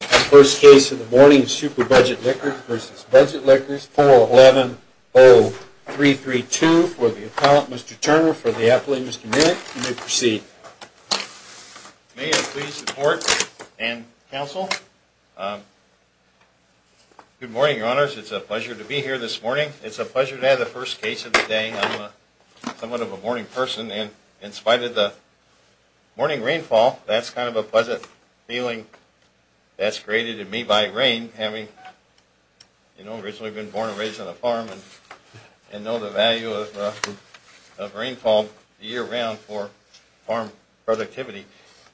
The first case of the morning is Super Budget Liquors v. Budget Liquors, 411-0332 for the appellant, Mr. Turner, for the appellant, Mr. Minnick. You may proceed. May I please report and counsel? Good morning, your honors. It's a pleasure to be here this morning. It's a pleasure to have the first case of the day. I'm somewhat of a morning person, and in spite of the morning rainfall, that's kind of a pleasant feeling that's created in me by rain, having, you know, originally been born and raised on a farm, and know the value of rainfall year-round for farm productivity.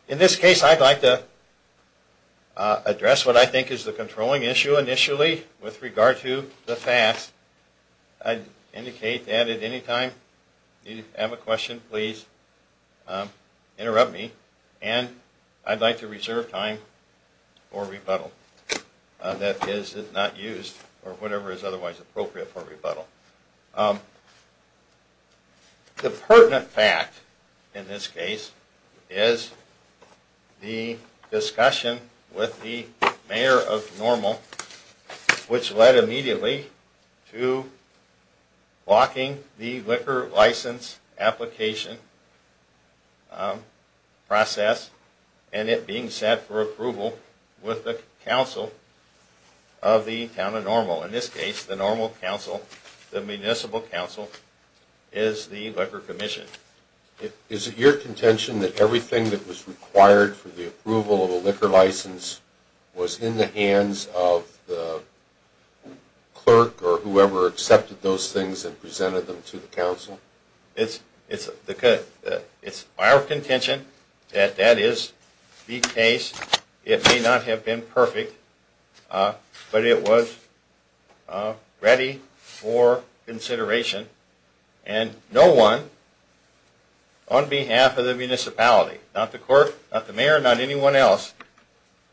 In this case, I'd like to address what I think is the controlling issue initially with regard to the FAFSA. I'd indicate that at any time you have a question, please interrupt me, and I'd like to reserve time for rebuttal. That is, if not used, or whatever is otherwise appropriate for rebuttal. The pertinent fact in this case is the discussion with the mayor of Normal, which led immediately to blocking the liquor license application process, and it being set for approval with the county. In this case, the Normal Council, the Municipal Council, is the Liquor Commission. Is it your contention that everything that was required for the approval of a liquor license was in the hands of the clerk or whoever accepted those things and presented them to the council? It's our contention that that is the case. It may not have been perfect, but it was ready for consideration, and no one on behalf of the municipality, not the clerk, not the mayor, not anyone else,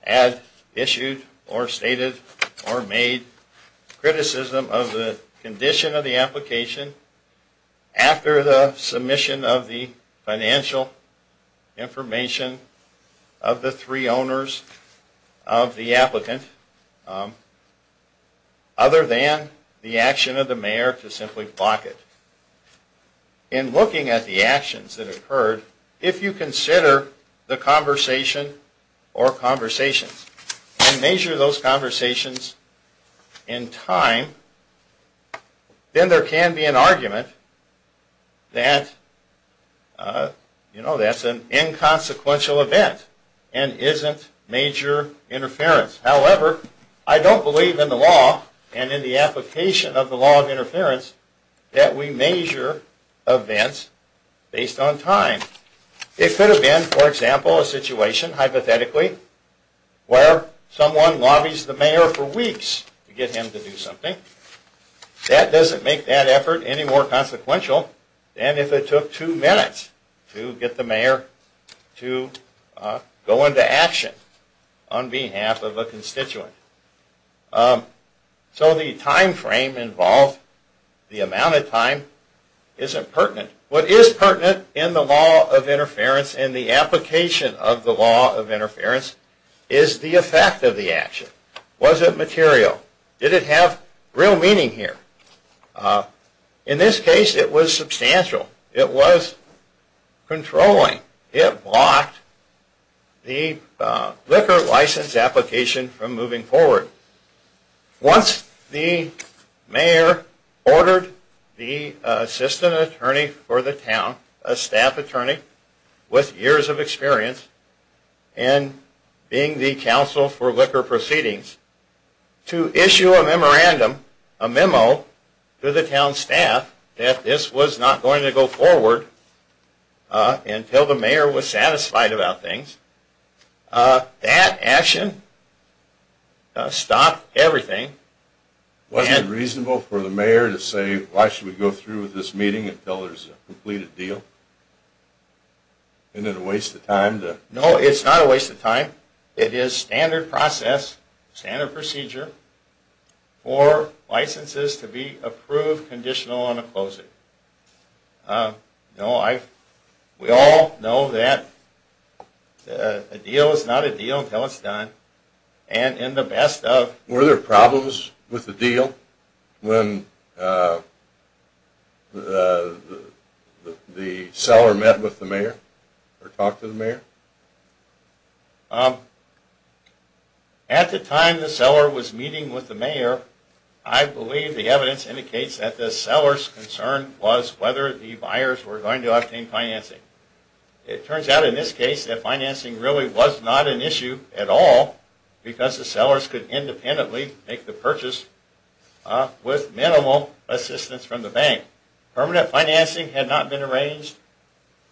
has issued or stated or made criticism of the condition of the application after the submission of the financial information of the three owners of the applicant, other than the action of the mayor to simply block it. In looking at the actions that occurred, if you consider the conversation or conversations, and measure those conversations in time, then there can be an argument that that's an inconsequential event and isn't major interference. However, I don't believe in the law and in the application of the law of interference that we measure events based on time. It could have been, for example, a situation, hypothetically, where someone lobbies the mayor for weeks to get him to do something. That doesn't make that effort any more consequential than if it took two minutes to get the mayor to go into action on behalf of a constituent. So the time frame involved, the amount of time, isn't pertinent. What is pertinent in the law of interference and the application of the law of interference is the effect of the action. Was it material? Did it have real meaning here? In this case, it was substantial. It was controlling. It blocked the liquor license application from moving forward. Once the mayor ordered the assistant attorney for the town, a staff attorney with years of experience, and being the counsel for liquor proceedings, to issue a memorandum, a memo, to the town staff that this was not going to go forward until the mayor was satisfied about things. That action stopped everything. Wasn't it reasonable for the mayor to say, why should we go through with this meeting until there's a completed deal? Isn't it a waste of time? No, it's not a waste of time. It is standard process, standard procedure for licenses to be approved, conditional, and a closing. We all know that a deal is not a deal until it's done. Were there problems with the deal when the seller met with the mayor or talked to the mayor? At the time the seller was meeting with the mayor, I believe the evidence indicates that the seller's concern was whether the buyers were going to obtain financing. It turns out in this case that financing really was not an issue at all because the sellers could independently make the purchase with minimal assistance from the bank. Permanent financing had not been arranged,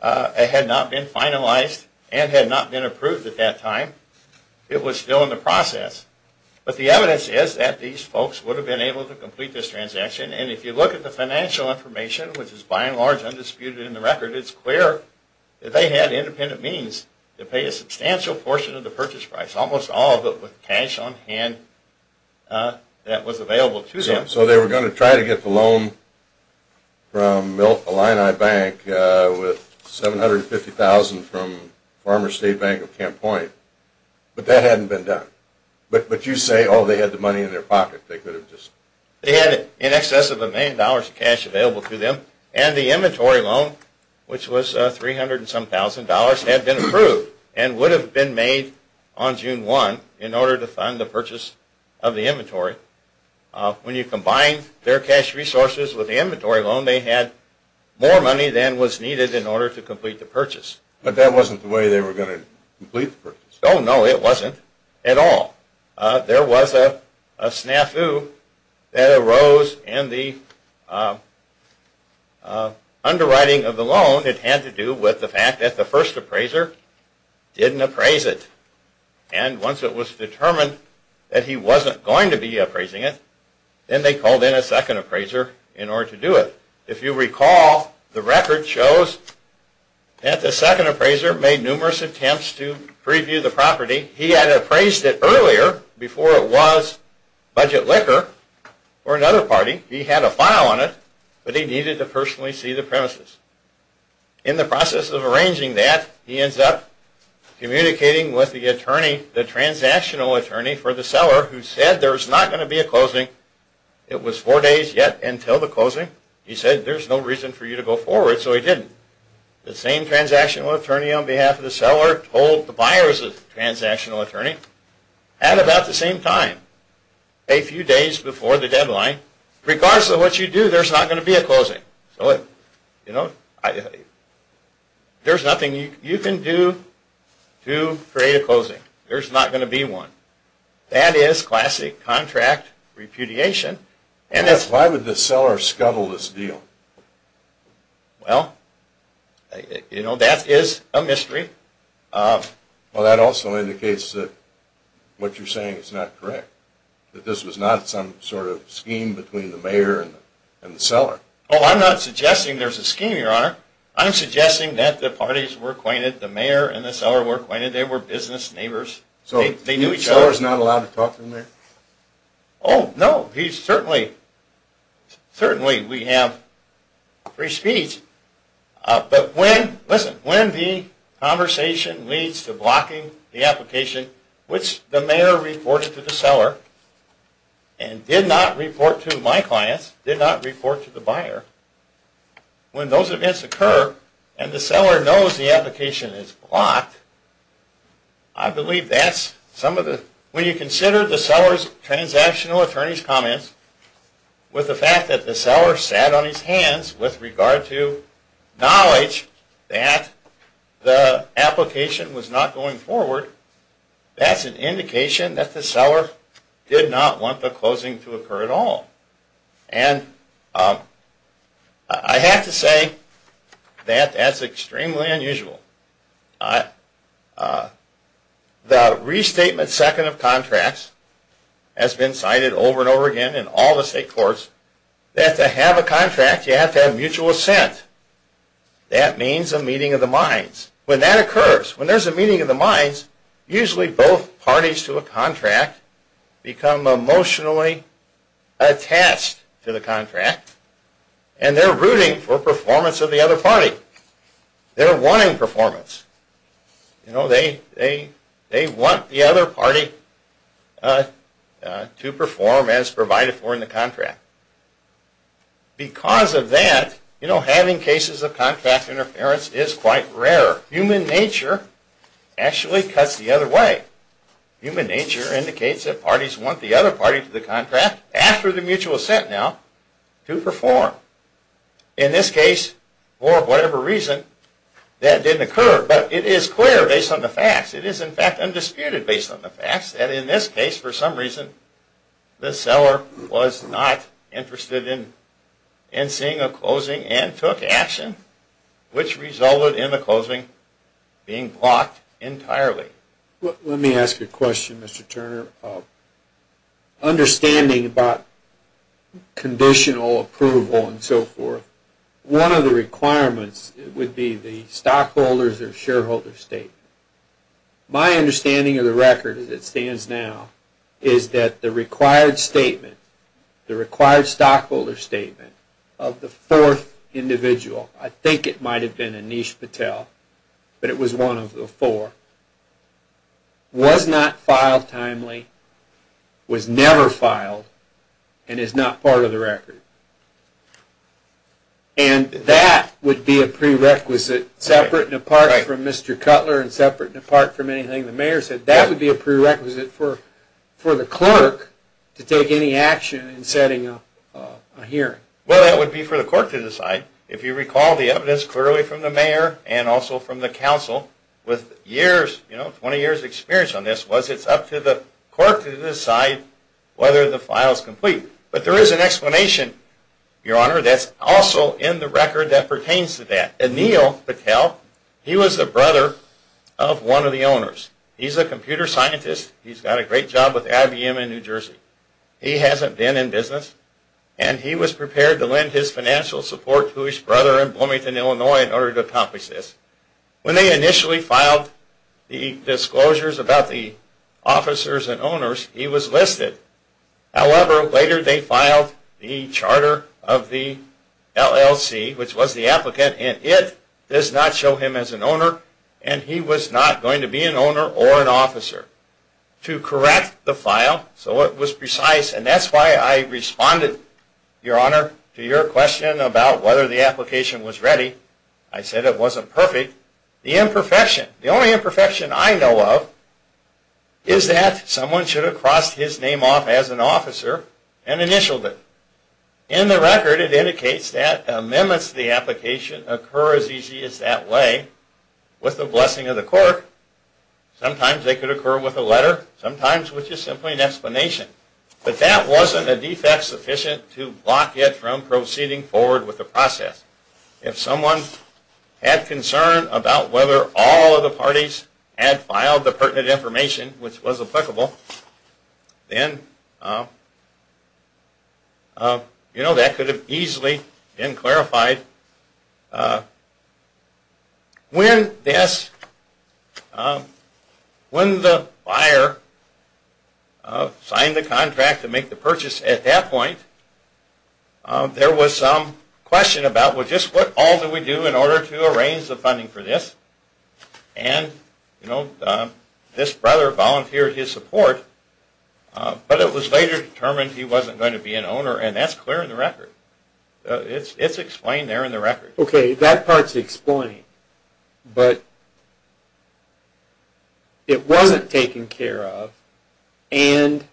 had not been finalized, and had not been approved at that time. It was still in the process. But the evidence is that these folks would have been able to complete this transaction. And if you look at the financial information, which is by and large undisputed in the record, it's clear that they had independent means to pay a substantial portion of the purchase price. Almost all of it with cash on hand that was available to them. So they were going to try to get the loan from the Illini Bank with $750,000 from Farmer State Bank of Camp Point, but that hadn't been done. But you say, oh, they had the money in their pocket. They had in excess of a million dollars of cash available to them. And the inventory loan, which was $300,000, had been approved and would have been made on June 1 in order to fund the purchase of the inventory. When you combine their cash resources with the inventory loan, they had more money than was needed in order to complete the purchase. But that wasn't the way they were going to complete the purchase. Oh, no, it wasn't at all. There was a snafu that arose in the underwriting of the loan. It had to do with the fact that the first appraiser didn't appraise it. And once it was determined that he wasn't going to be appraising it, then they called in a second appraiser in order to do it. If you recall, the record shows that the second appraiser made numerous attempts to preview the property. He had appraised it earlier before it was budget liquor for another party. He had a file on it, but he needed to personally see the premises. In the process of arranging that, he ends up communicating with the transactional attorney for the seller, who said there was not going to be a closing. It was four days yet until the closing. He said there's no reason for you to go forward, so he didn't. The same transactional attorney on behalf of the seller told the buyer's transactional attorney, at about the same time, a few days before the deadline, regardless of what you do, there's not going to be a closing. There's nothing you can do to create a closing. There's not going to be one. That is classic contract repudiation. Why would the seller scuttle this deal? Well, you know, that is a mystery. Well, that also indicates that what you're saying is not correct, that this was not some sort of scheme between the mayor and the seller. Oh, I'm not suggesting there's a scheme, Your Honor. I'm suggesting that the parties were acquainted, the mayor and the seller were acquainted, they were business neighbors. So the seller's not allowed to talk to the mayor? Oh, no. Certainly we have free speech. But listen, when the conversation leads to blocking the application, which the mayor reported to the seller and did not report to my clients, did not report to the buyer, when those events occur and the seller knows the application is blocked, I believe that's some of the... When you consider the seller's transactional attorney's comments with the fact that the seller sat on his hands with regard to knowledge that the application was not going forward, that's an indication that the seller did not want the closing to occur at all. And I have to say that that's extremely unusual. The restatement second of contracts has been cited over and over again in all the state courts. To have a contract, you have to have mutual assent. That means a meeting of the minds. When that occurs, when there's a meeting of the minds, usually both parties to a contract become emotionally attached to the contract and they're rooting for performance of the other party. They're wanting performance. They want the other party to perform as provided for in the contract. Because of that, having cases of contract interference is quite rare. Human nature actually cuts the other way. Human nature indicates that parties want the other party to the contract, after the mutual assent now, to perform. In this case, for whatever reason, that didn't occur. But it is clear based on the facts. It is, in fact, undisputed based on the facts that in this case, for some reason the seller was not interested in seeing a closing and took action, which resulted in the closing being blocked entirely. Let me ask you a question, Mr. Turner. Understanding about conditional approval and so forth, one of the requirements would be the stockholders or shareholder statement. My understanding of the record as it stands now is that the required statement, the required stockholder statement of the fourth individual, I think it might have been Anish Patel, but it was one of the four, was not filed timely, was never filed, and is not part of the record. And that would be a prerequisite separate and apart from Mr. Cutler and separate and apart from anything the mayor said. That would be a prerequisite for the clerk to take any action in setting up a hearing. Well, that would be for the court to decide. If you recall the evidence clearly from the mayor and also from the council, with years, you know, 20 years' experience on this, was it's up to the court to decide whether the file is complete. But there is an explanation, Your Honor, that's also in the record that pertains to that. Anil Patel, he was the brother of one of the owners. He's a computer scientist. He's got a great job with IBM in New Jersey. He hasn't been in business, and he was prepared to lend his financial support to his brother in Bloomington, Illinois, in order to accomplish this. When they initially filed the disclosures about the officers and owners, he was listed. However, later they filed the charter of the LLC, which was the applicant, and it does not show him as an owner, and he was not going to be an owner or an officer. To correct the file, so it was precise, and that's why I responded, Your Honor, to your question about whether the application was ready. I said it wasn't perfect. The imperfection, the only imperfection I know of, is that someone should have crossed his name off as an officer and initialed it. In the record, it indicates that amendments to the application occur as easy as that way. With the blessing of the court, sometimes they could occur with a letter, sometimes with just simply an explanation. But that wasn't a defect sufficient to block it from proceeding forward with the process. If someone had concern about whether all of the parties had filed the pertinent information, which was applicable, then that could have easily been clarified. When the buyer signed the contract to make the purchase at that point, there was some question about, well, just what all do we do in order to arrange the funding for this? And, you know, this brother volunteered his support, but it was later determined he wasn't going to be an owner, and that's clear in the record. It's explained there in the record. Okay, that part's explained, but it wasn't taken care of, and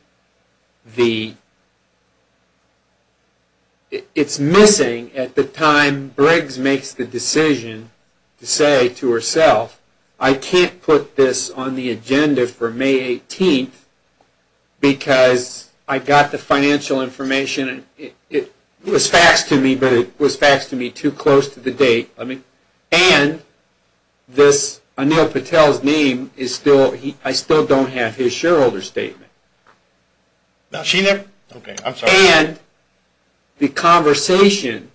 it's missing at the time Briggs makes the decision to say to herself, I can't put this on the agenda for May 18th because I got the financial information. It was faxed to me, but it was faxed to me too close to the date. And Anil Patel's name, I still don't have his shareholder statement. Is she there? Okay, I'm sorry. And the conversation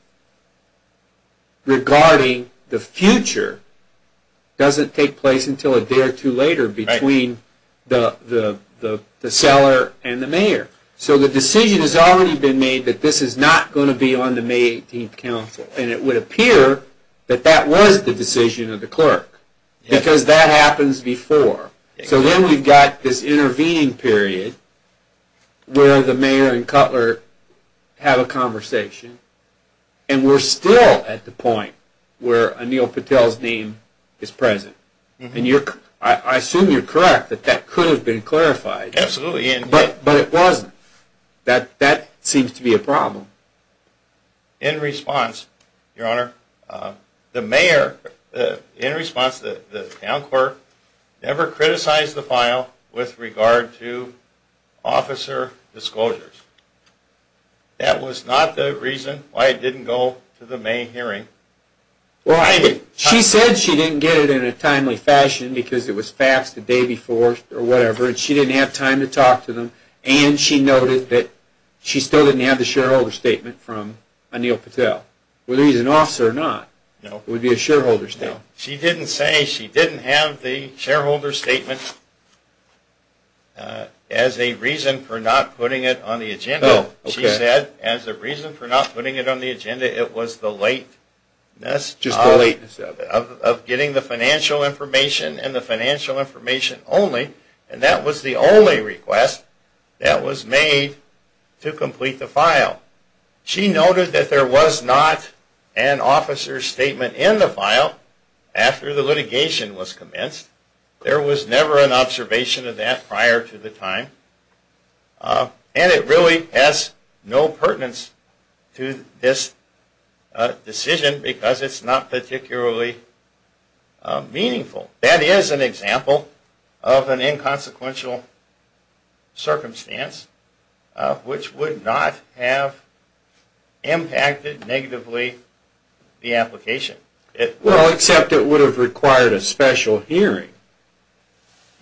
regarding the future doesn't take place until a day or two later between the seller and the mayor. So the decision has already been made that this is not going to be on the May 18th council, and it would appear that that was the decision of the clerk, because that happens before. So then we've got this intervening period where the mayor and Cutler have a conversation, and we're still at the point where Anil Patel's name is present. And I assume you're correct that that could have been clarified. Absolutely. But it wasn't. That seems to be a problem. In response, Your Honor, the mayor, in response to the town clerk, never criticized the file with regard to officer disclosures. That was not the reason why it didn't go to the May hearing. Well, she said she didn't get it in a timely fashion because it was faxed the day before or whatever, and she didn't have time to talk to them. And she noted that she still didn't have the shareholder statement from Anil Patel. Whether he's an officer or not, it would be a shareholder statement. She didn't say she didn't have the shareholder statement as a reason for not putting it on the agenda. She said as a reason for not putting it on the agenda, it was the lateness of getting the financial information and the financial information only, and that was the only request that was made to complete the file. She noted that there was not an officer's statement in the file after the litigation was commenced. There was never an observation of that prior to the time. And it really has no pertinence to this decision because it's not particularly meaningful. That is an example of an inconsequential circumstance which would not have impacted negatively the application. Well, except it would have required a special hearing.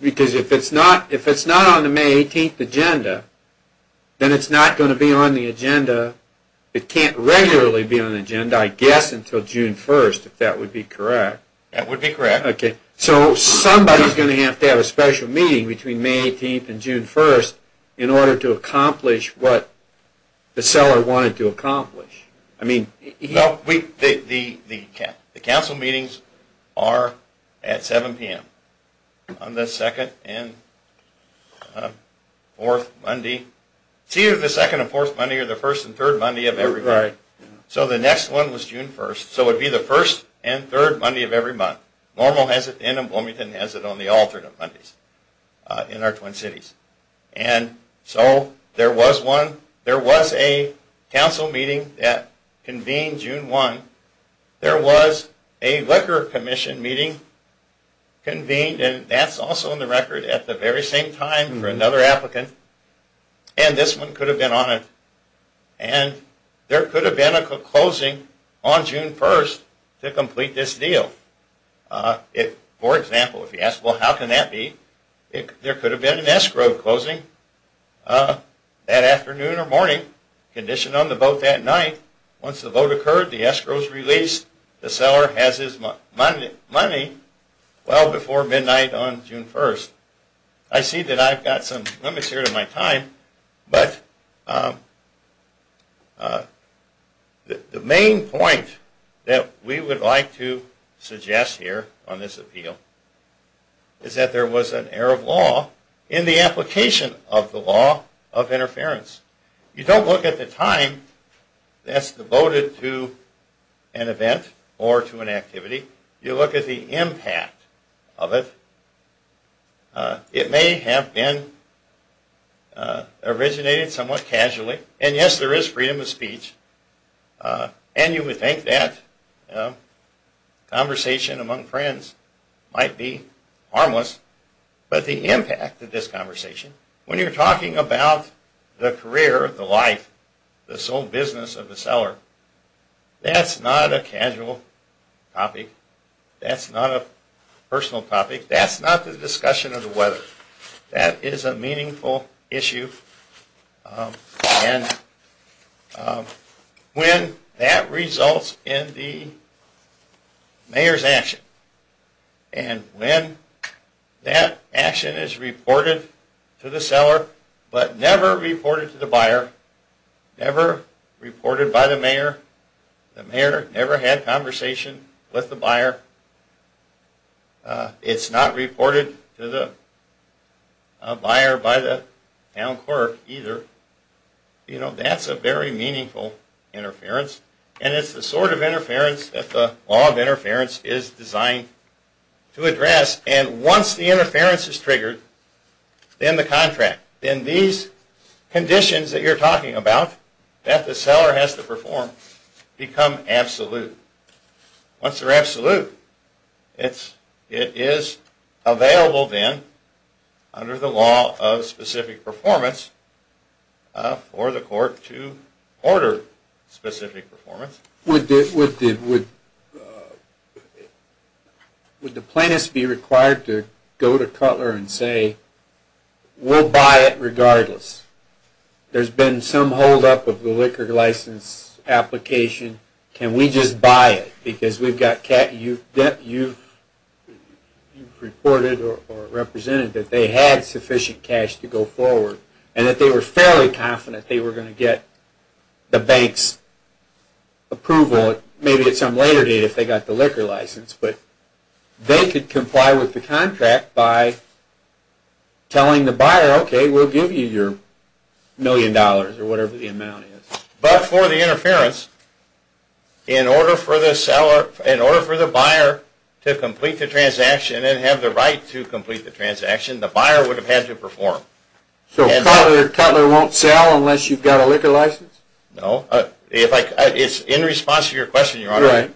Because if it's not on the May 18th agenda, then it's not going to be on the agenda. It can't regularly be on the agenda, I guess, until June 1st, if that would be correct. That would be correct. So somebody is going to have to have a special meeting between May 18th and June 1st in order to accomplish what the seller wanted to accomplish. Well, the council meetings are at 7 p.m. on the 2nd and 4th Monday. It's either the 2nd and 4th Monday or the 1st and 3rd Monday of every month. So the next one was June 1st. So it would be the 1st and 3rd Monday of every month. Normal has it and Bloomington has it on the alternate Mondays in our Twin Cities. So there was a council meeting that convened June 1. There was a Liquor Commission meeting convened, and that's also on the record, at the very same time for another applicant. And this one could have been on it. And there could have been a closing on June 1st to complete this deal. For example, if you ask, well, how can that be? There could have been an escrow closing that afternoon or morning, conditioned on the vote that night. Once the vote occurred, the escrow was released, the seller has his money well before midnight on June 1st. I see that I've got some limits here to my time, but the main point that we would like to suggest here on this appeal is that there was an error of law in the application of the law of interference. You don't look at the time that's devoted to an event or to an activity. You look at the impact of it. It may have been originated somewhat casually, and yes, there is freedom of speech, and you would think that conversation among friends might be harmless, but the impact of this conversation, when you're talking about the career, the life, the sole business of the seller, that's not a casual topic. That's not a personal topic. That's not the discussion of the weather. That is a meaningful issue, and when that results in the mayor's action, and when that action is reported to the seller, but never reported to the buyer, never reported by the mayor, the mayor never had conversation with the buyer, it's not reported to the buyer by the town clerk either, that's a very meaningful interference, and it's the sort of interference that the law of interference is designed to address, and once the interference is triggered, then the contract, then these conditions that you're talking about, that the seller has to perform, become absolute. Once they're absolute, it is available then, under the law of specific performance, for the court to order specific performance. Would the plaintiffs be required to go to Cutler and say, we'll buy it regardless, there's been some hold up of the liquor license application, can we just buy it, because you've reported or represented that they had sufficient cash to go forward, and that they were fairly confident they were going to get the bank's approval, maybe at some later date if they got the liquor license, but they could comply with the contract by telling the buyer, okay, we'll give you your million dollars, or whatever the amount is. But for the interference, in order for the buyer to complete the transaction, and have the right to complete the transaction, the buyer would have had to perform. So Cutler won't sell unless you've got a liquor license? No. It's in response to your question, Your Honor. Right.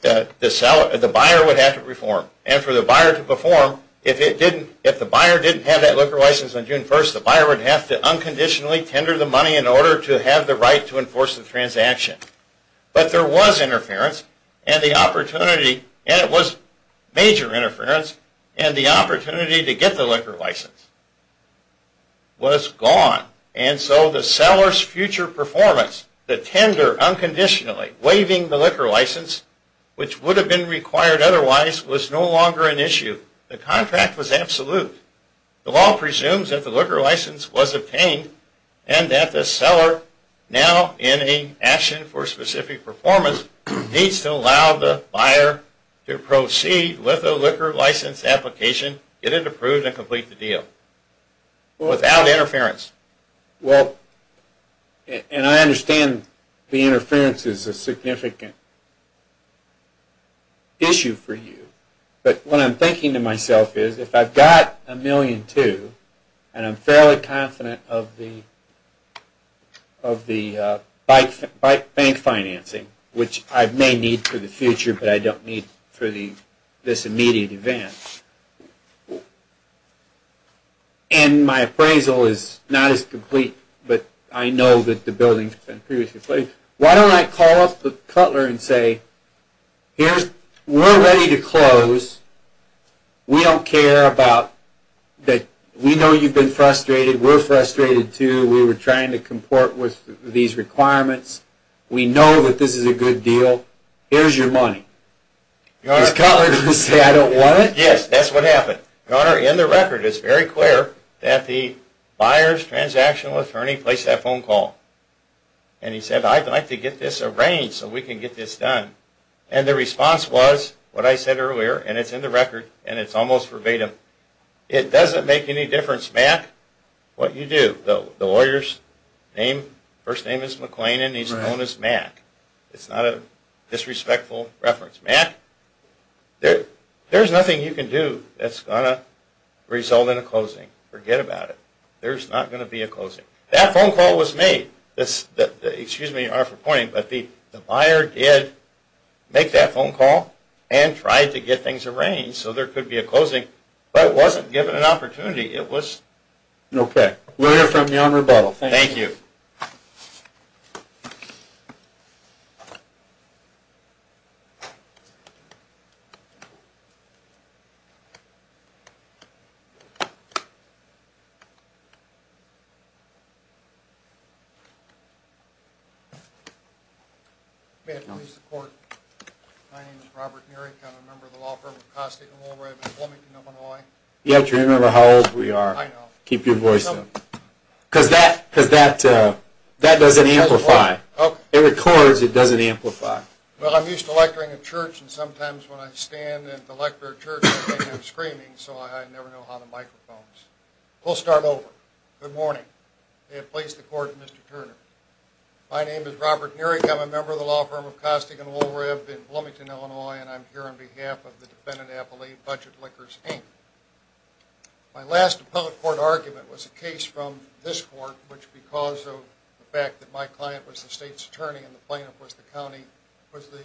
The buyer would have to perform, and for the buyer to perform, if the buyer didn't have that liquor license on June 1st, the buyer would have to unconditionally tender the money in order to have the right to enforce the transaction. But there was interference, and it was major interference, and the opportunity to get the liquor license was gone. And so the seller's future performance, the tender unconditionally waiving the liquor license, which would have been required otherwise, was no longer an issue. The contract was absolute. The law presumes that the liquor license was obtained, and that the seller, now in an action for specific performance, needs to allow the buyer to proceed with the liquor license application, get it approved, and complete the deal without interference. Well, and I understand the interference is a significant issue for you. But what I'm thinking to myself is, if I've got $1.2 million, and I'm fairly confident of the bank financing, which I may need for the future, but I don't need for this immediate event, and my appraisal is not as complete, but I know that the building has been previously completed, why don't I call up the Cutler and say, we're ready to close. We don't care about that. We know you've been frustrated. We're frustrated too. We were trying to comport with these requirements. We know that this is a good deal. Here's your money. Is Cutler going to say, I don't want it? Yes, that's what happened. Your Honor, in the record, it's very clear that the buyer's transactional attorney placed that phone call. And he said, I'd like to get this arranged so we can get this done. And the response was what I said earlier, and it's in the record, and it's almost verbatim, it doesn't make any difference, Mac, what you do. The lawyer's first name is McClain, and he's known as Mac. It's not a disrespectful reference. Mac, there's nothing you can do that's going to result in a closing. Forget about it. There's not going to be a closing. That phone call was made. Excuse me, Your Honor, for pointing, but the buyer did make that phone call and tried to get things arranged so there could be a closing, but wasn't given an opportunity. Okay. We'll hear from you on rebuttal. Thank you. May it please the Court, my name is Robert Nurick, I'm a member of the law firm of Costa and Woolworth in Bloomington, Illinois. You have to remember how old we are. I know. Keep your voice down. Because that doesn't amplify. Okay. It records, it doesn't amplify. Well, I'm used to lecturing at church, and sometimes when I stand and lecture at church, I end up screaming, so I never know how the microphone is. We'll start over. Good morning. May it please the Court, Mr. Turner. My name is Robert Nurick, I'm a member of the law firm of Costa and Woolworth in Bloomington, Illinois, and I'm here on behalf of the defendant appellee, Budget Liquors, Inc. My last appellate court argument was a case from this court, which, because of the fact that my client was the state's attorney and the plaintiff was the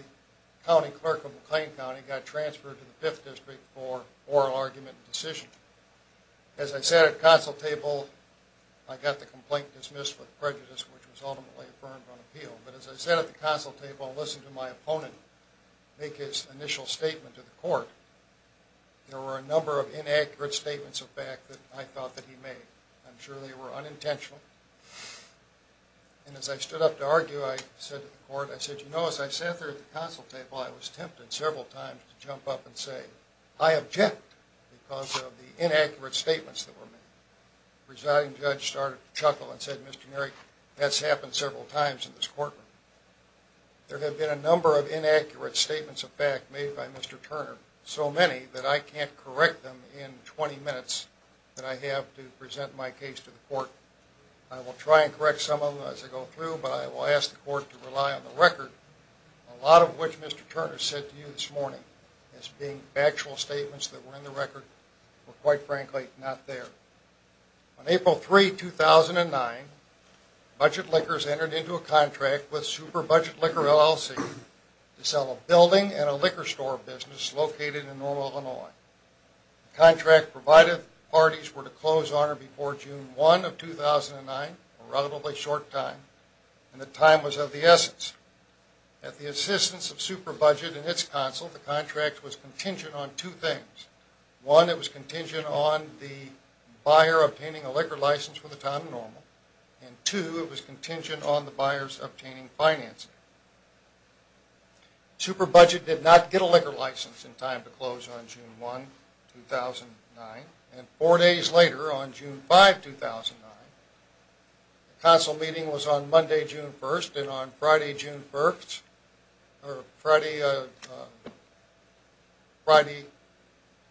county clerk of McLean County, got transferred to the Fifth District for oral argument and decision. As I sat at the consul table, I got the complaint dismissed with prejudice, which was ultimately affirmed on appeal. But as I sat at the consul table and listened to my opponent make his initial statement to the court, there were a number of inaccurate statements of fact that I thought that he made. I'm sure they were unintentional. And as I stood up to argue, I said to the court, I said, You know, as I sat there at the consul table, I was tempted several times to jump up and say, I object because of the inaccurate statements that were made. The presiding judge started to chuckle and said, Mr. Nery, that's happened several times in this courtroom. There have been a number of inaccurate statements of fact made by Mr. Turner, so many that I can't correct them in 20 minutes that I have to present my case to the court. I will try and correct some of them as I go through, but I will ask the court to rely on the record, a lot of which Mr. Turner said to you this morning as being factual statements that were in the record, but quite frankly, not there. On April 3, 2009, Budget Liquors entered into a contract with Super Budget Liquor LLC to sell a building and a liquor store business located in Normal, Illinois. The contract provided parties were to close on or before June 1 of 2009, a relatively short time, and the time was of the essence. At the assistance of Super Budget and its consul, the contract was contingent on two things. One, it was contingent on the buyer obtaining a liquor license for the time of Normal, and two, it was contingent on the buyers obtaining financing. Super Budget did not get a liquor license in time to close on June 1, 2009, and four days later, on June 5, 2009, the consul meeting was on Monday, June 1, and on Friday, June 1, or Friday,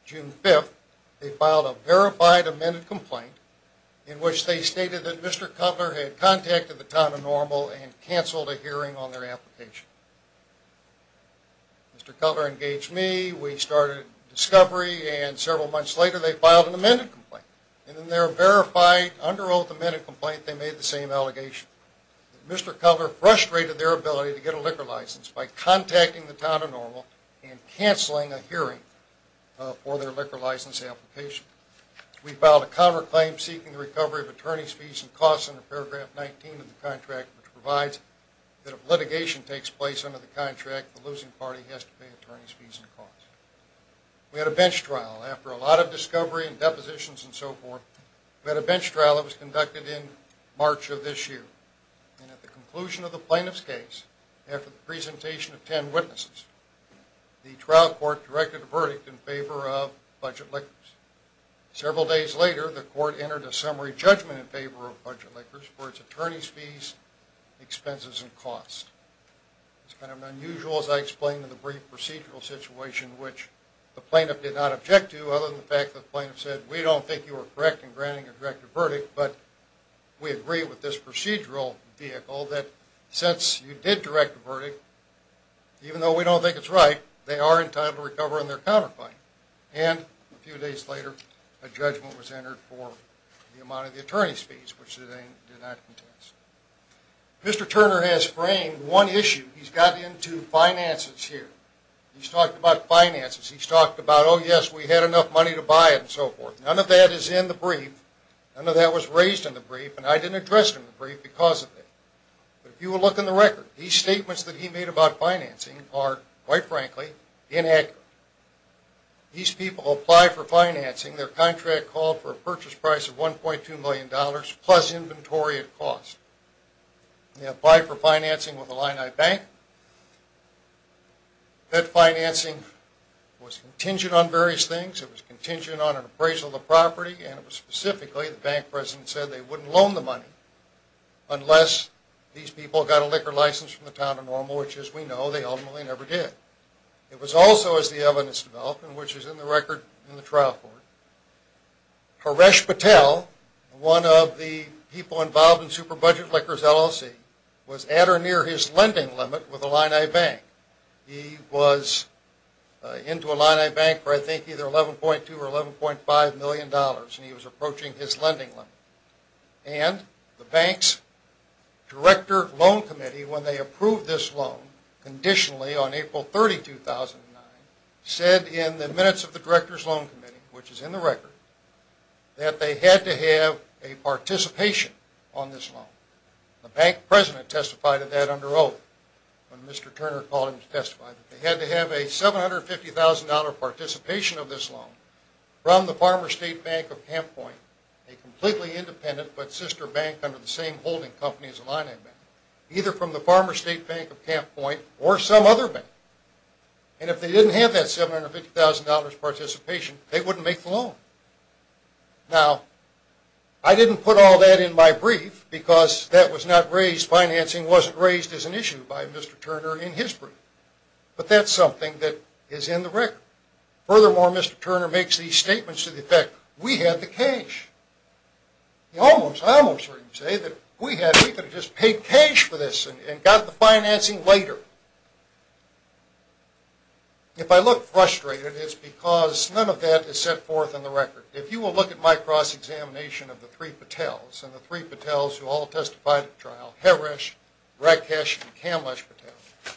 June 5, they filed a verified amended complaint in which they stated that Mr. Cutler had contacted the town of Normal and canceled a hearing on their application. Mr. Cutler engaged me, we started discovery, and several months later, they filed an amended complaint, and in their verified under oath amended complaint, they made the same allegation. Mr. Cutler frustrated their ability to get a liquor license by contacting the town of Normal and canceling a hearing for their liquor license application. We filed a cover claim seeking the recovery of attorney's fees and costs under paragraph 19 of the contract, which provides that if litigation takes place under the contract, the losing party has to pay attorney's fees and costs. We had a bench trial. After a lot of discovery and depositions and so forth, we had a bench trial that was conducted in March of this year, and at the conclusion of the plaintiff's case, after the presentation of ten witnesses, the trial court directed a verdict in favor of budget liquors. Several days later, the court entered a summary judgment in favor of budget liquors for its attorney's fees, expenses, and costs. It's kind of unusual, as I explained in the brief procedural situation, which the plaintiff did not object to, other than the fact that the plaintiff said, we don't think you were correct in granting a direct verdict, but we agree with this procedural vehicle that since you did direct the verdict, even though we don't think it's right, they are entitled to recover on their counterclaim. And a few days later, a judgment was entered for the amount of the attorney's fees, which they did not contest. Mr. Turner has framed one issue. He's gotten into finances here. He's talked about finances. He's talked about, oh, yes, we had enough money to buy it, and so forth. None of that is in the brief. None of that was raised in the brief, and I didn't address it in the brief because of it. But if you will look in the record, these statements that he made about financing are, quite frankly, inaccurate. These people apply for financing. Their contract called for a purchase price of $1.2 million plus inventory at cost. They apply for financing with Illini Bank. That financing was contingent on various things. It was contingent on an appraisal of the property, and it was specifically the bank president said they wouldn't loan the money unless these people got a liquor license from the town of Normal, which, as we know, they ultimately never did. It was also, as the evidence developed, and which is in the record in the trial court, Haresh Patel, one of the people involved in Superbudget Liquors LLC, was at or near his lending limit with Illini Bank. He was into Illini Bank for, I think, either $11.2 or $11.5 million, and he was approaching his lending limit. And the bank's director loan committee, when they approved this loan, conditionally on April 30, 2009, said in the minutes of the director's loan committee, which is in the record, that they had to have a participation on this loan. The bank president testified of that under oath when Mr. Turner called him to testify. They had to have a $750,000 participation of this loan from the Farmer State Bank of Camp Point, a completely independent but sister bank under the same holding company as Illini Bank, either from the Farmer State Bank of Camp Point or some other bank. And if they didn't have that $750,000 participation, they wouldn't make the loan. Now, I didn't put all that in my brief because that was not raised. Financing wasn't raised as an issue by Mr. Turner in his brief. But that's something that is in the record. Furthermore, Mr. Turner makes these statements to the effect, we had the cash. I almost heard him say that we could have just paid cash for this and got the financing later. If I look frustrated, it's because none of that is set forth in the record. If you will look at my cross-examination of the three Patels, and the three Patels who all testified at the trial, Heresh, Rakesh, and Kamlesh Patel,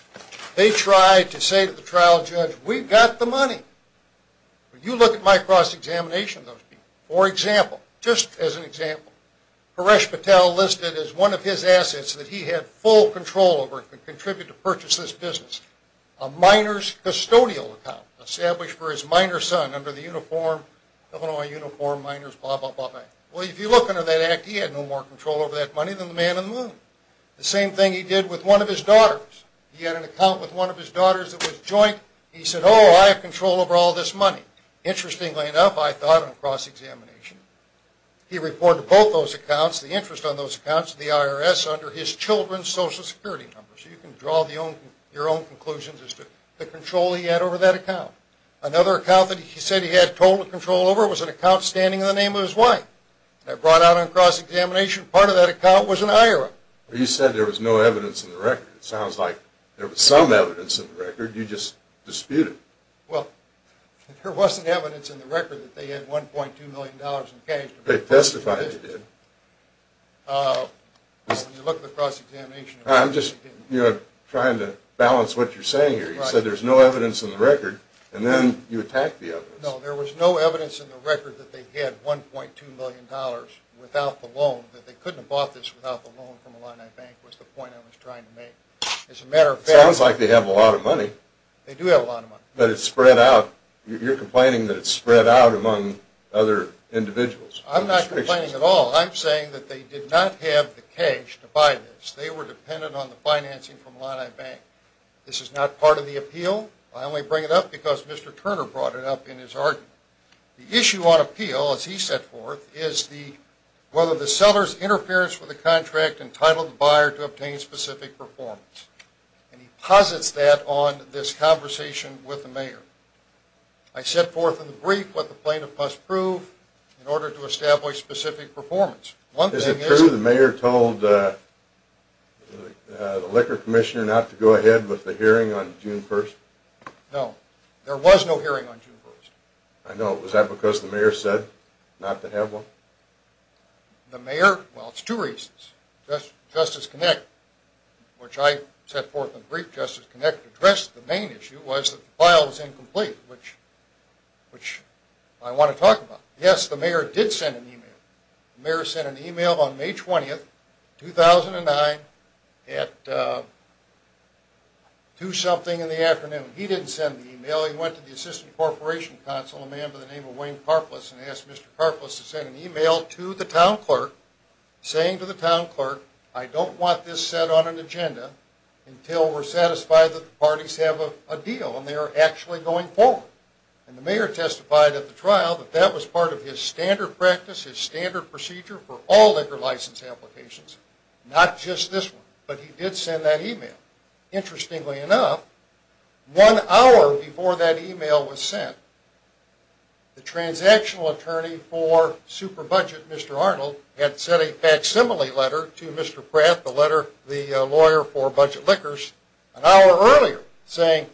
they tried to say to the trial judge, we've got the money. But you look at my cross-examination of those people. For example, just as an example, Heresh Patel listed as one of his assets that he had full control over and could contribute to purchase this business. A miner's custodial account established for his miner son under the Illinois Uniform Miners Act. Well, if you look under that act, he had no more control over that money than the man in the moon. The same thing he did with one of his daughters. He had an account with one of his daughters that was joint. He said, oh, I have control over all this money. Interestingly enough, I thought in a cross-examination, he reported both those accounts, the interest on those accounts to the IRS under his children's social security numbers. You can draw your own conclusions as to the control he had over that account. Another account that he said he had total control over was an account standing in the name of his wife. That brought out on cross-examination part of that account was an IRA. You said there was no evidence in the record. It sounds like there was some evidence in the record. You just disputed it. Well, there wasn't evidence in the record that they had $1.2 million in cash. They testified they did. When you look at the cross-examination... I'm just trying to balance what you're saying here. You said there's no evidence in the record, and then you attacked the evidence. No, there was no evidence in the record that they had $1.2 million without the loan, that they couldn't have bought this without the loan from Illinois Bank was the point I was trying to make. It sounds like they have a lot of money. They do have a lot of money. But it's spread out. You're complaining that it's spread out among other individuals. I'm not complaining at all. I'm saying that they did not have the cash to buy this. They were dependent on the financing from Illinois Bank. This is not part of the appeal. I only bring it up because Mr. Turner brought it up in his argument. The issue on appeal, as he set forth, is whether the seller's interference with the contract entitled the buyer to obtain specific performance. And he posits that on this conversation with the mayor. I set forth in the brief what the plaintiff must prove in order to establish specific performance. Is it true the mayor told the liquor commissioner not to go ahead with the hearing on June 1st? No. There was no hearing on June 1st. I know. Was that because the mayor said not to have one? The mayor... Well, it's two reasons. Justice Connick, which I set forth in the brief, Justice Connick addressed the main issue, was that the file was incomplete, which I want to talk about. Yes, the mayor did send an email. The mayor sent an email on May 20th, 2009, at two-something in the afternoon. He didn't send the email. He went to the assistant corporation counsel, a man by the name of Wayne Karplus, and asked Mr. Karplus to send an email to the town clerk, saying to the town clerk, I don't want this set on an agenda until we're satisfied that the parties have a deal and they are actually going forward. And the mayor testified at the trial that that was part of his standard practice, his standard procedure for all liquor license applications, not just this one. But he did send that email. Interestingly enough, one hour before that email was sent, the transactional attorney for Super Budget, Mr. Arnold, had sent a facsimile letter to Mr. Pratt, the lawyer for budget liquors, an hour earlier, saying,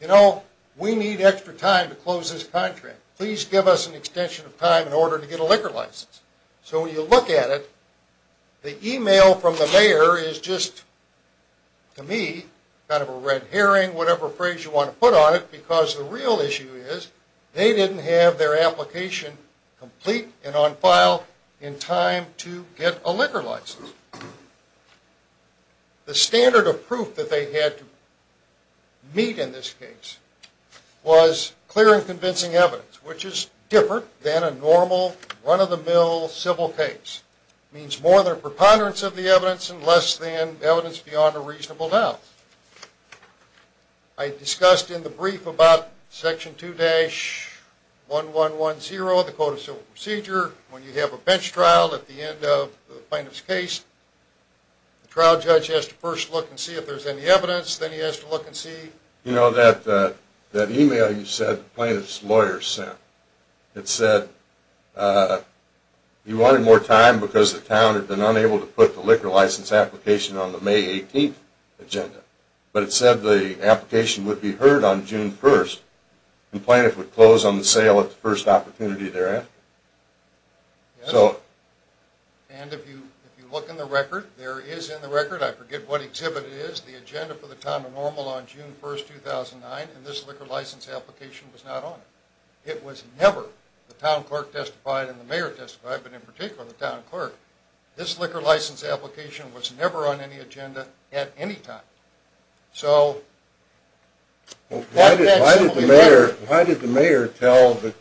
you know, we need extra time to close this contract. Please give us an extension of time in order to get a liquor license. So when you look at it, the email from the mayor is just, to me, kind of a red herring, whatever phrase you want to put on it, because the real issue is, they didn't have their application complete and on file in time to get a liquor license. The standard of proof that they had to meet in this case was clear and convincing evidence, which is different than a normal, run-of-the-mill civil case. It means more than a preponderance of the evidence and less than evidence beyond a reasonable doubt. I discussed in the brief about Section 2-1110 of the Code of Civil Procedure, when you have a bench trial at the end of the plaintiff's case, the trial judge has to first look and see if there's any evidence, then he has to look and see. You know, that email you said the plaintiff's lawyer sent, it said he wanted more time because the town had been unable to put the liquor license application on the May 18th agenda, but it said the application would be heard on June 1st. The plaintiff would close on the sale at the first opportunity thereafter. And if you look in the record, there is in the record, I forget what exhibit it is, the agenda for the town of Normal on June 1st, 2009, and this liquor license application was not on it. It was never. The town clerk testified and the mayor testified, but in particular the town clerk. This liquor license application was never on any agenda at any time. So, why did the mayor tell the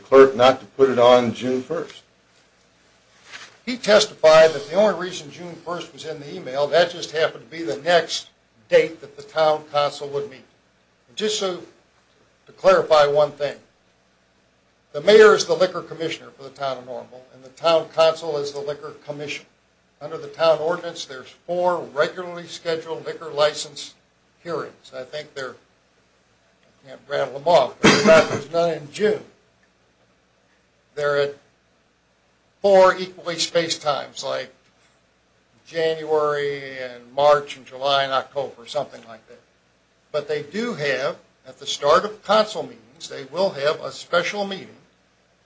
clerk not to put it on June 1st? He testified that the only reason June 1st was in the email, that just happened to be the next date that the town council would meet. Just to clarify one thing, the mayor is the liquor commissioner for the town of Normal, and the town council is the liquor commission. Under the town ordinance, there's four regularly scheduled liquor license hearings. I think they're, I can't rattle them off, but there's none in June. They're at four equally spaced times, like January and March and July and October, something like that. But they do have, at the start of council meetings, they will have a special meeting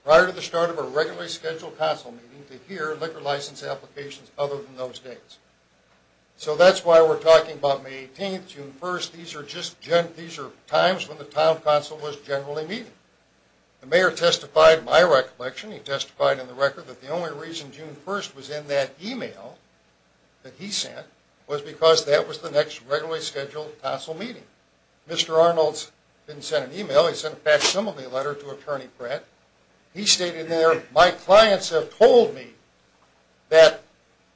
prior to the start of a regularly scheduled council meeting to hear liquor license applications other than those dates. So that's why we're talking about May 18th, June 1st, these are times when the town council was generally meeting. The mayor testified in my recollection, he testified in the record, that the only reason June 1st was in that email that he sent was because that was the next regularly scheduled council meeting. Mr. Arnold didn't send an email, he sent a facsimile letter to Attorney Pratt. He stated there, my clients have told me that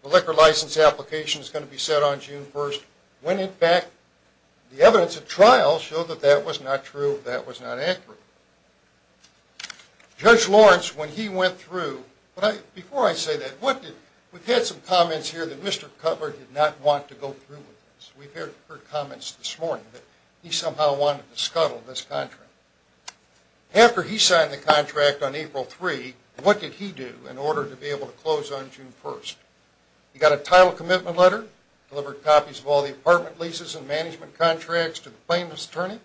the liquor license application is going to be set on June 1st, when in fact the evidence of trial showed that that was not true, that was not accurate. Judge Lawrence, when he went through, before I say that, we've had some comments here that Mr. Cutler did not want to go through with this. We've heard comments this morning that he somehow wanted to scuttle this contract. After he signed the contract on April 3, what did he do in order to be able to close on June 1st? He got a title commitment letter, delivered copies of all the apartment leases and management contracts to the plaintiff's attorney,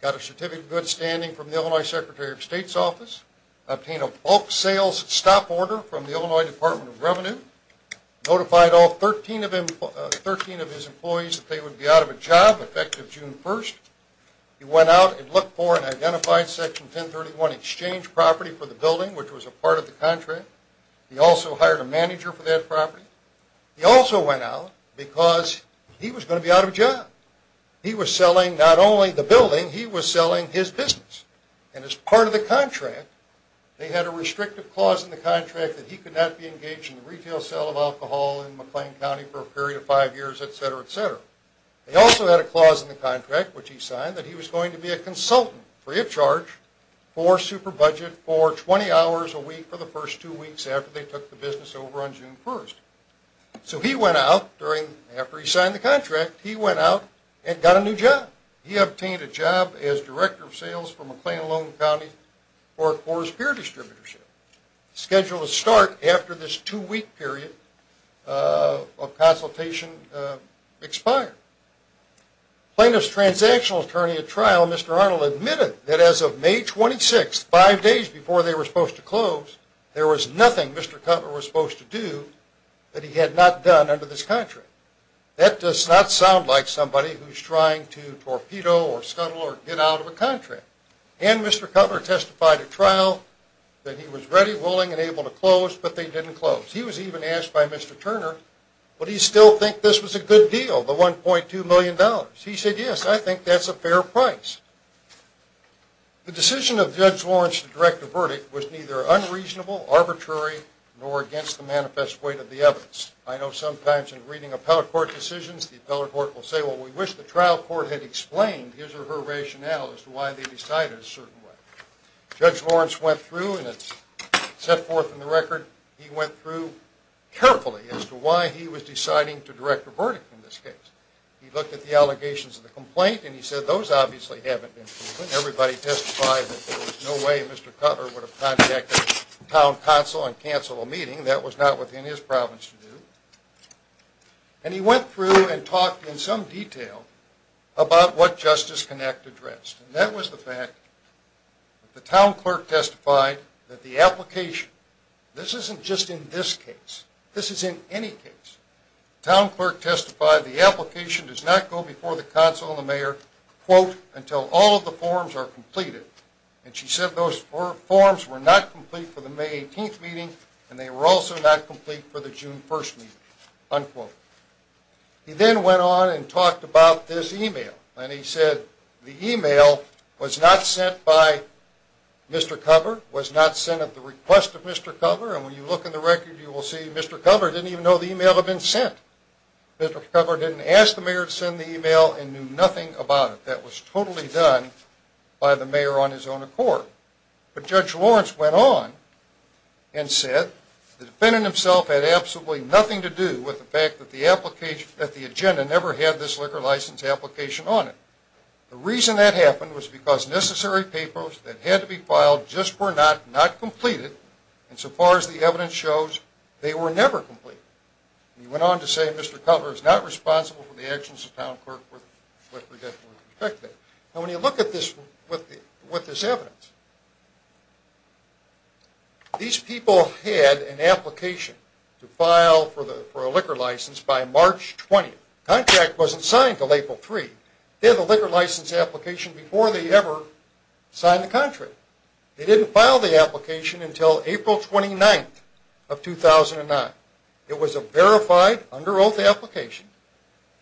got a certificate of good standing from the Illinois Secretary of State's office, obtained a bulk sales stop order from the Illinois Department of Revenue, notified all 13 of his employees that they would be out of a job effective June 1st. He went out and looked for and identified Section 1031 exchange property for the building, which was a part of the contract. He also hired a manager for that property. He also went out because he was going to be out of a job. He was selling not only the building, he was selling his business. And as part of the contract, they had a restrictive clause in the contract that he could not be engaged in the retail sale of alcohol in McLean County for a period of five years, etc., etc. They also had a clause in the contract, which he signed, that he was going to be a consultant, free of charge, for super budget for 20 hours a week for the first two weeks after they took the business over on June 1st. So he went out, after he signed the contract, he went out and got a new job. He obtained a job as Director of Sales for McLean-London County for a quarter's peer distributorship. Scheduled to start after this two-week period of consultation expired. Plaintiff's Transactional Attorney at trial, Mr. Arnold, admitted that as of May 26th, five days before they were supposed to close, there was nothing Mr. Cutler was supposed to do that he had not done under this contract. That does not sound like somebody who's trying to torpedo or scuttle or get out of a contract. And Mr. Cutler testified at trial that he was ready, willing, and able to close, but they didn't close. He was even asked by Mr. Turner, would he still think this was a good deal, the $1.2 million? He said, yes, I think that's a fair price. The decision of Judge Lawrence to direct the verdict was neither unreasonable, arbitrary, nor against the manifest weight of the evidence. I know sometimes in reading appellate court decisions, the appellate court will say, well, we wish the trial court had explained his or her rationale as to why they decided a certain way. Judge Lawrence went through, and it's set forth in the record, he went through carefully as to why he was deciding to direct the verdict in this case. He looked at the allegations of the complaint, and he said, those obviously haven't been proven. Everybody testified that there was no way Mr. Cutler would have contacted the town council and canceled a meeting. That was not within his province to do. And he went through and talked in some detail about what Justice Connect addressed. And that was the fact that the town clerk testified that the application, this isn't just in this case. This is in any case. The town clerk testified the application does not go before the council and the mayor, quote, until all of the forms are completed. And she said those forms were not complete for the May 18th meeting, and they were also not complete for the June 1st meeting, unquote. He then went on and talked about this email. And he said the email was not sent by Mr. Cutler, was not sent at the request of Mr. Cutler. And when you look in the record, you will see Mr. Cutler didn't even know the email had been sent. Mr. Cutler didn't ask the mayor to send the email and knew nothing about it. That was totally done by the mayor on his own accord. But Judge Lawrence went on and said the defendant himself had absolutely nothing to do with the fact that the agenda never had this liquor license application on it. The reason that happened was because necessary papers that had to be filed just were not completed. And so far as the evidence shows, they were never completed. And he went on to say Mr. Cutler is not responsible for the actions of the town clerk. And when you look at this with this evidence, these people had an application to file for a liquor license by March 20th. The contract wasn't signed until April 3rd. They had the liquor license application before they ever signed the contract. They didn't file the application until April 29th of 2009. It was a verified, under oath application.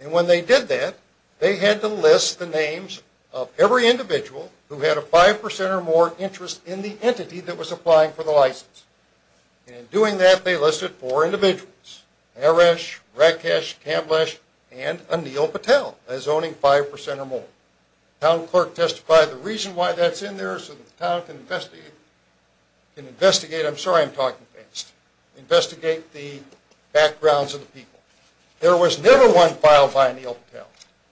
And when they did that, they had to list the names of every individual who had a 5% or more interest in the entity that was applying for the license. And in doing that, they listed four individuals. Harish, Rakesh, Kamblesh, and Anil Patel as owning 5% or more. The town clerk testified the reason why that's in there is so the town can investigate. I'm sorry I'm talking fast. Investigate the backgrounds of the people. There was never one filed by Anil Patel.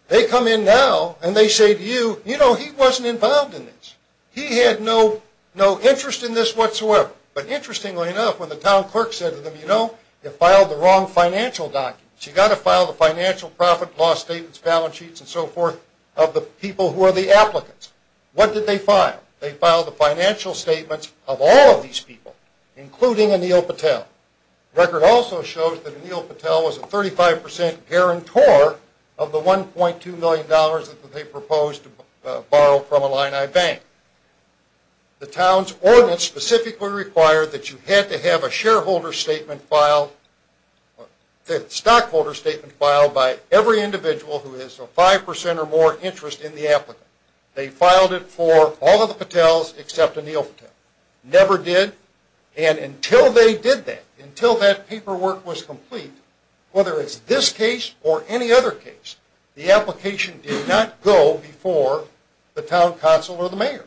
They come in now and they say to you, you know, he wasn't involved in this. He had no interest in this whatsoever. But interestingly enough, when the town clerk said to them, you know, you filed the wrong financial documents. You've got to file the financial profit law statements, balance sheets, and so forth of the people who are the applicants. What did they file? They filed the financial statements of all of these people, including Anil Patel. The record also shows that Anil Patel was a 35% guarantor of the $1.2 million that they proposed to borrow from Illini Bank. The town's ordinance specifically required that you had to have a shareholder statement filed, a stockholder statement filed by every individual who has a 5% or more interest in the applicant. They filed it for all of the Patels except Anil Patel. Never did. And until they did that, until that paperwork was complete, whether it's this case or any other case, the application did not go before the town council or the mayor.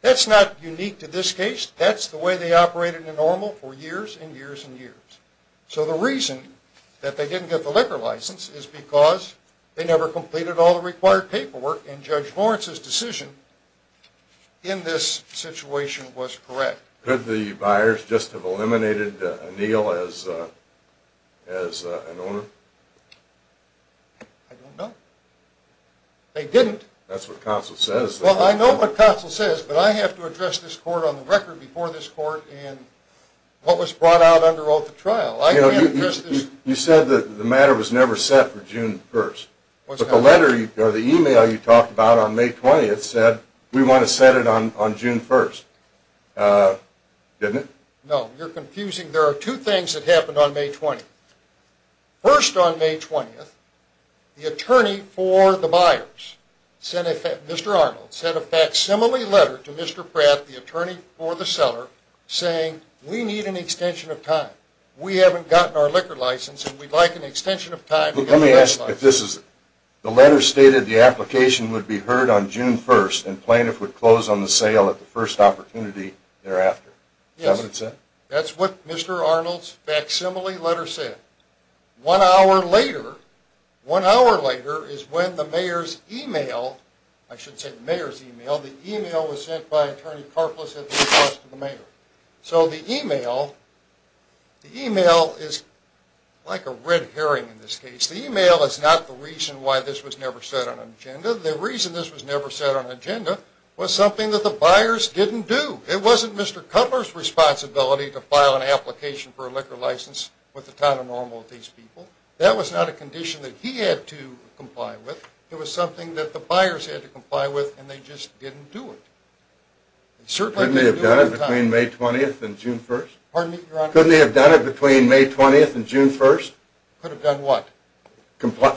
That's not unique to this case. That's the way they operated in normal for years and years and years. So the reason that they didn't get the liquor license is because they never completed all the required paperwork, and Judge Lawrence's decision in this situation was correct. Could the buyers just have eliminated Anil as an owner? I don't know. They didn't. That's what council says. Well, I know what council says, but I have to address this court on the record before this court and what was brought out under oath of trial. You said that the matter was never set for June 1st. But the letter or the e-mail you talked about on May 20th said we want to set it on June 1st, didn't it? No, you're confusing. There are two things that happened on May 20th. First, on May 20th, the attorney for the buyers, Mr. Arnold, sent a facsimile letter to Mr. Pratt, the attorney for the seller, saying we need an extension of time. We haven't gotten our liquor license and we'd like an extension of time. Let me ask if this is the letter stated the application would be heard on June 1st and plaintiff would close on the sale at the first opportunity thereafter. Is that what it said? That's what Mr. Arnold's facsimile letter said. One hour later, one hour later is when the mayor's e-mail, I should say the mayor's e-mail, the e-mail was sent by Attorney Karplus at the request of the mayor. So the e-mail, the e-mail is like a red herring in this case. The e-mail is not the reason why this was never set on agenda. The reason this was never set on agenda was something that the buyers didn't do. It wasn't Mr. Cutler's responsibility to file an application for a liquor license with the town of Normalty's people. That was not a condition that he had to comply with. It was something that the buyers had to comply with and they just didn't do it. They certainly didn't do it on time. Couldn't they have done it between May 20th and June 1st? Pardon me, Your Honor? Couldn't they have done it between May 20th and June 1st? Could have done what?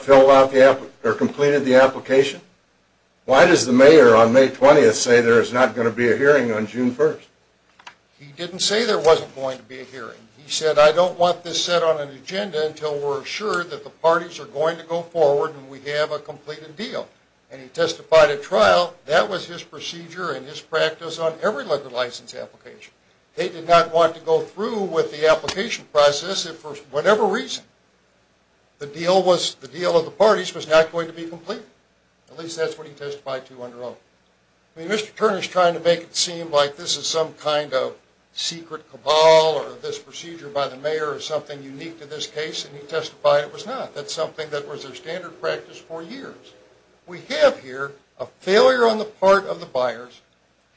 Filled out the application or completed the application? Why does the mayor on May 20th say there is not going to be a hearing on June 1st? He didn't say there wasn't going to be a hearing. He said I don't want this set on an agenda until we're assured that the parties are going to go forward and we have a completed deal. And he testified at trial that was his procedure and his practice on every liquor license application. They did not want to go through with the application process if for whatever reason the deal of the parties was not going to be complete. At least that's what he testified to under oath. I mean, Mr. Turner is trying to make it seem like this is some kind of secret cabal or this procedure by the mayor is something unique to this case and he testified it was not. That's something that was their standard practice for years. We have here a failure on the part of the buyers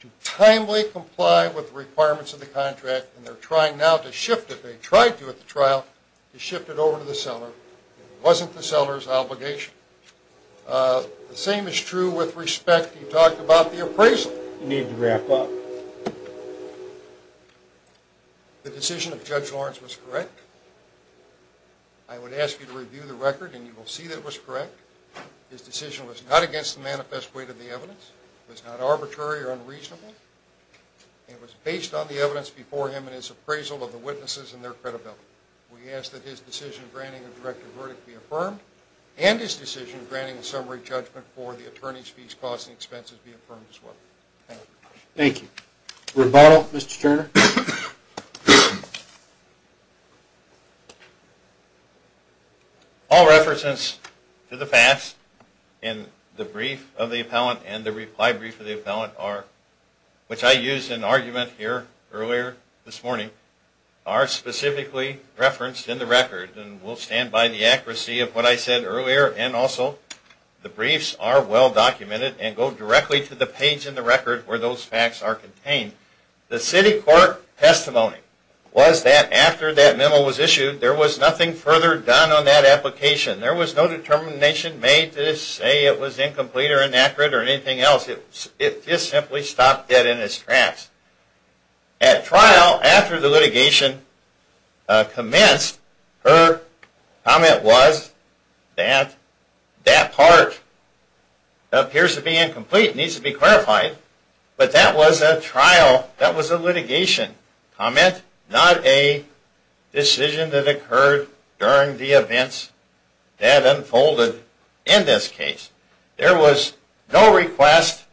to timely comply with the requirements of the contract and they're trying now to shift it. They tried to at the trial to shift it over to the seller. It wasn't the seller's obligation. The same is true with respect. He talked about the appraisal. You need to wrap up. The decision of Judge Lawrence was correct. I would ask you to review the record and you will see that it was correct. His decision was not against the manifest weight of the evidence. It was not arbitrary or unreasonable. It was based on the evidence before him and his appraisal of the witnesses and their credibility. We ask that his decision granting a directed verdict be affirmed and his decision granting a summary judgment for the attorney's fees, costs, and expenses be affirmed as well. Thank you. Rebuttal, Mr. Turner? All references to the past in the brief of the appellant and the reply brief of the appellant, which I used in argument here earlier this morning, are specifically referenced in the record. We'll stand by the accuracy of what I said earlier. Also, the briefs are well documented and go directly to the page in the record where those facts are contained. The city court testimony was that after that memo was issued, there was nothing further done on that application. There was no determination made to say it was incomplete or inaccurate or anything else. It just simply stopped dead in its tracks. At trial, after the litigation commenced, her comment was that that part appears to be incomplete. It needs to be clarified. But that was a trial. That was a litigation comment, not a decision that occurred during the events that unfolded in this case. There was no request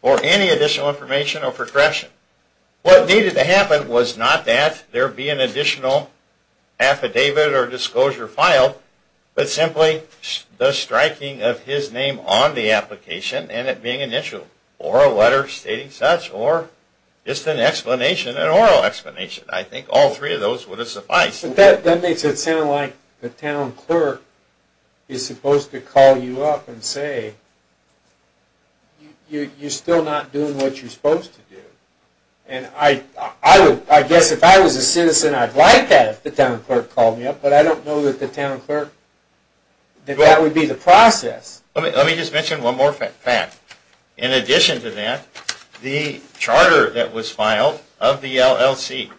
for any additional information or for correction. What needed to happen was not that there be an additional affidavit or disclosure filed, but simply the striking of his name on the application and it being an issue, or a letter stating such, or just an explanation, an oral explanation. I think all three of those would have sufficed. But that makes it sound like the town clerk is supposed to call you up and say, you're still not doing what you're supposed to do. And I guess if I was a citizen, I'd like that if the town clerk called me up, but I don't know that the town clerk, that that would be the process. Let me just mention one more fact. In addition to that, the charter that was filed of the LLC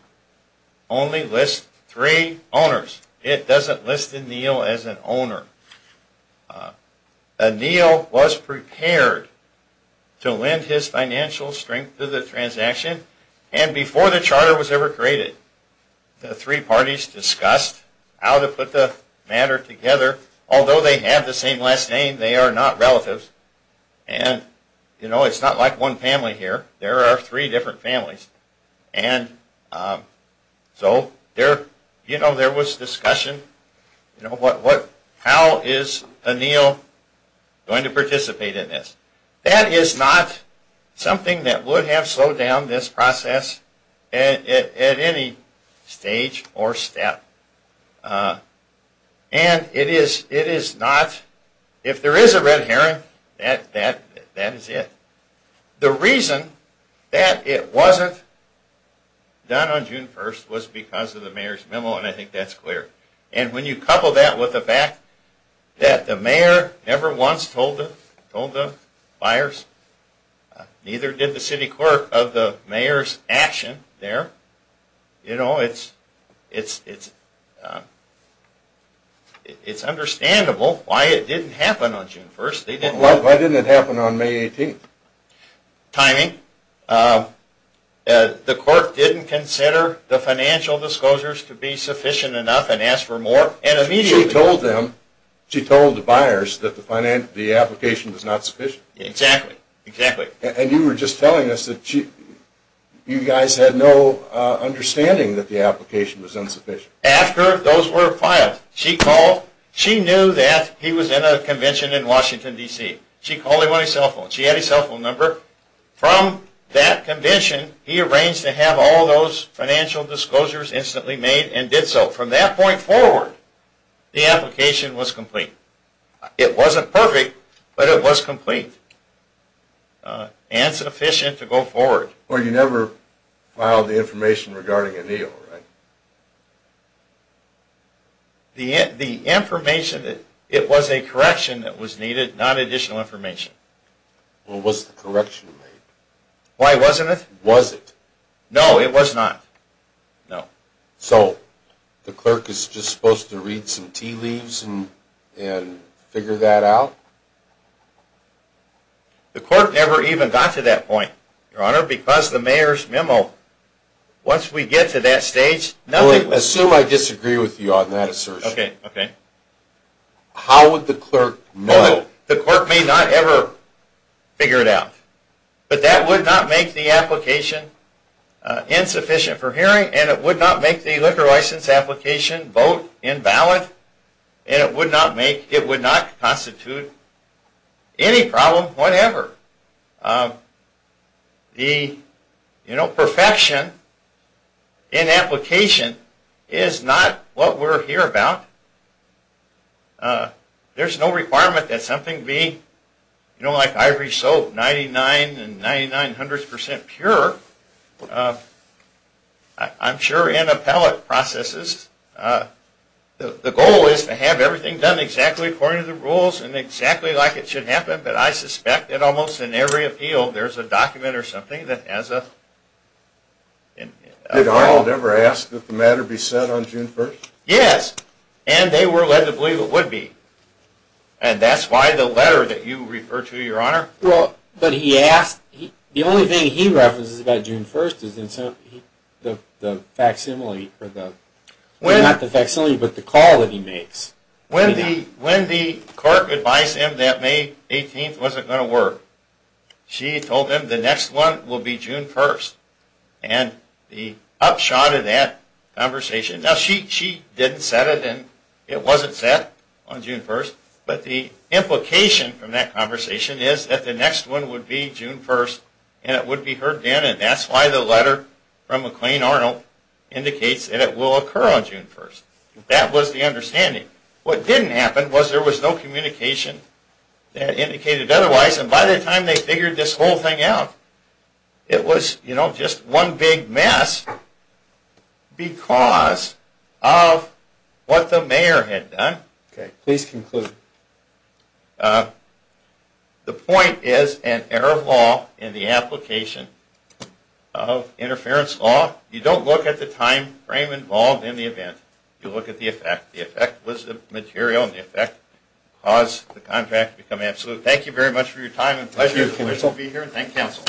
only lists three owners. It doesn't list Anil as an owner. Anil was prepared to lend his financial strength to the transaction, and before the charter was ever created, the three parties discussed how to put the matter together. Although they have the same last name, they are not relatives. And, you know, it's not like one family here. There are three different families. And so, you know, there was discussion. You know, how is Anil going to participate in this? That is not something that would have slowed down this process at any stage or step. And it is not. If there is a red herring, that is it. The reason that it wasn't done on June 1st was because of the mayor's memo, and I think that's clear. And when you couple that with the fact that the mayor never once told the buyers, neither did the city clerk, of the mayor's action there, you know, it's understandable why it didn't happen on June 1st. Why didn't it happen on May 18th? Timing. The court didn't consider the financial disclosures to be sufficient enough and asked for more. She told them, she told the buyers that the application was not sufficient. Exactly. And you were just telling us that you guys had no understanding that the application was insufficient. After those were filed, she called. She knew that he was in a convention in Washington, D.C. She called him on his cell phone. She had his cell phone number. From that convention, he arranged to have all those financial disclosures instantly made and did so. From that point forward, the application was complete. It wasn't perfect, but it was complete and sufficient to go forward. Well, you never filed the information regarding a deal, right? The information, it was a correction that was needed, not additional information. Well, was the correction made? Why wasn't it? Was it? No, it was not. No. So, the clerk is just supposed to read some tea leaves and figure that out? The court never even got to that point, Your Honor, because the mayor's memo, once we get to that stage, nothing... Well, assume I disagree with you on that assertion. Okay, okay. How would the clerk know? The clerk may not ever figure it out. But that would not make the application insufficient for hearing, and it would not make the liquor license application vote invalid, and it would not constitute any problem whatever. The perfection in application is not what we're here about. There's no requirement that something be, you know, like ivory soap, 99 and 99 hundredths percent pure. I'm sure in appellate processes, the goal is to have everything done exactly according to the rules and exactly like it should happen, but I suspect that almost in every appeal there's a document or something that has a... Did Arnold ever ask that the matter be set on June 1st? Yes, and they were led to believe it would be, and that's why the letter that you refer to, Your Honor... Well, but he asked, the only thing he references about June 1st is the facsimile, or not the facsimile, but the call that he makes. When the clerk advised him that May 18th wasn't going to work, she told him the next one will be June 1st, and the upshot of that conversation... Now, she didn't set it, and it wasn't set on June 1st, but the implication from that conversation is that the next one would be June 1st, and it would be heard then, and that's why the letter from McLean Arnold indicates that it will occur on June 1st. That was the understanding. What didn't happen was there was no communication that indicated otherwise, and by the time they figured this whole thing out, it was, you know, just one big mess because of what the mayor had done. Okay, please conclude. The point is an error of law in the application of interference law. You don't look at the time frame involved in the event, you look at the effect. The effect was the material, and the effect caused the contract to become absolute. Thank you very much for your time, and it's a pleasure to be here, and thank counsel.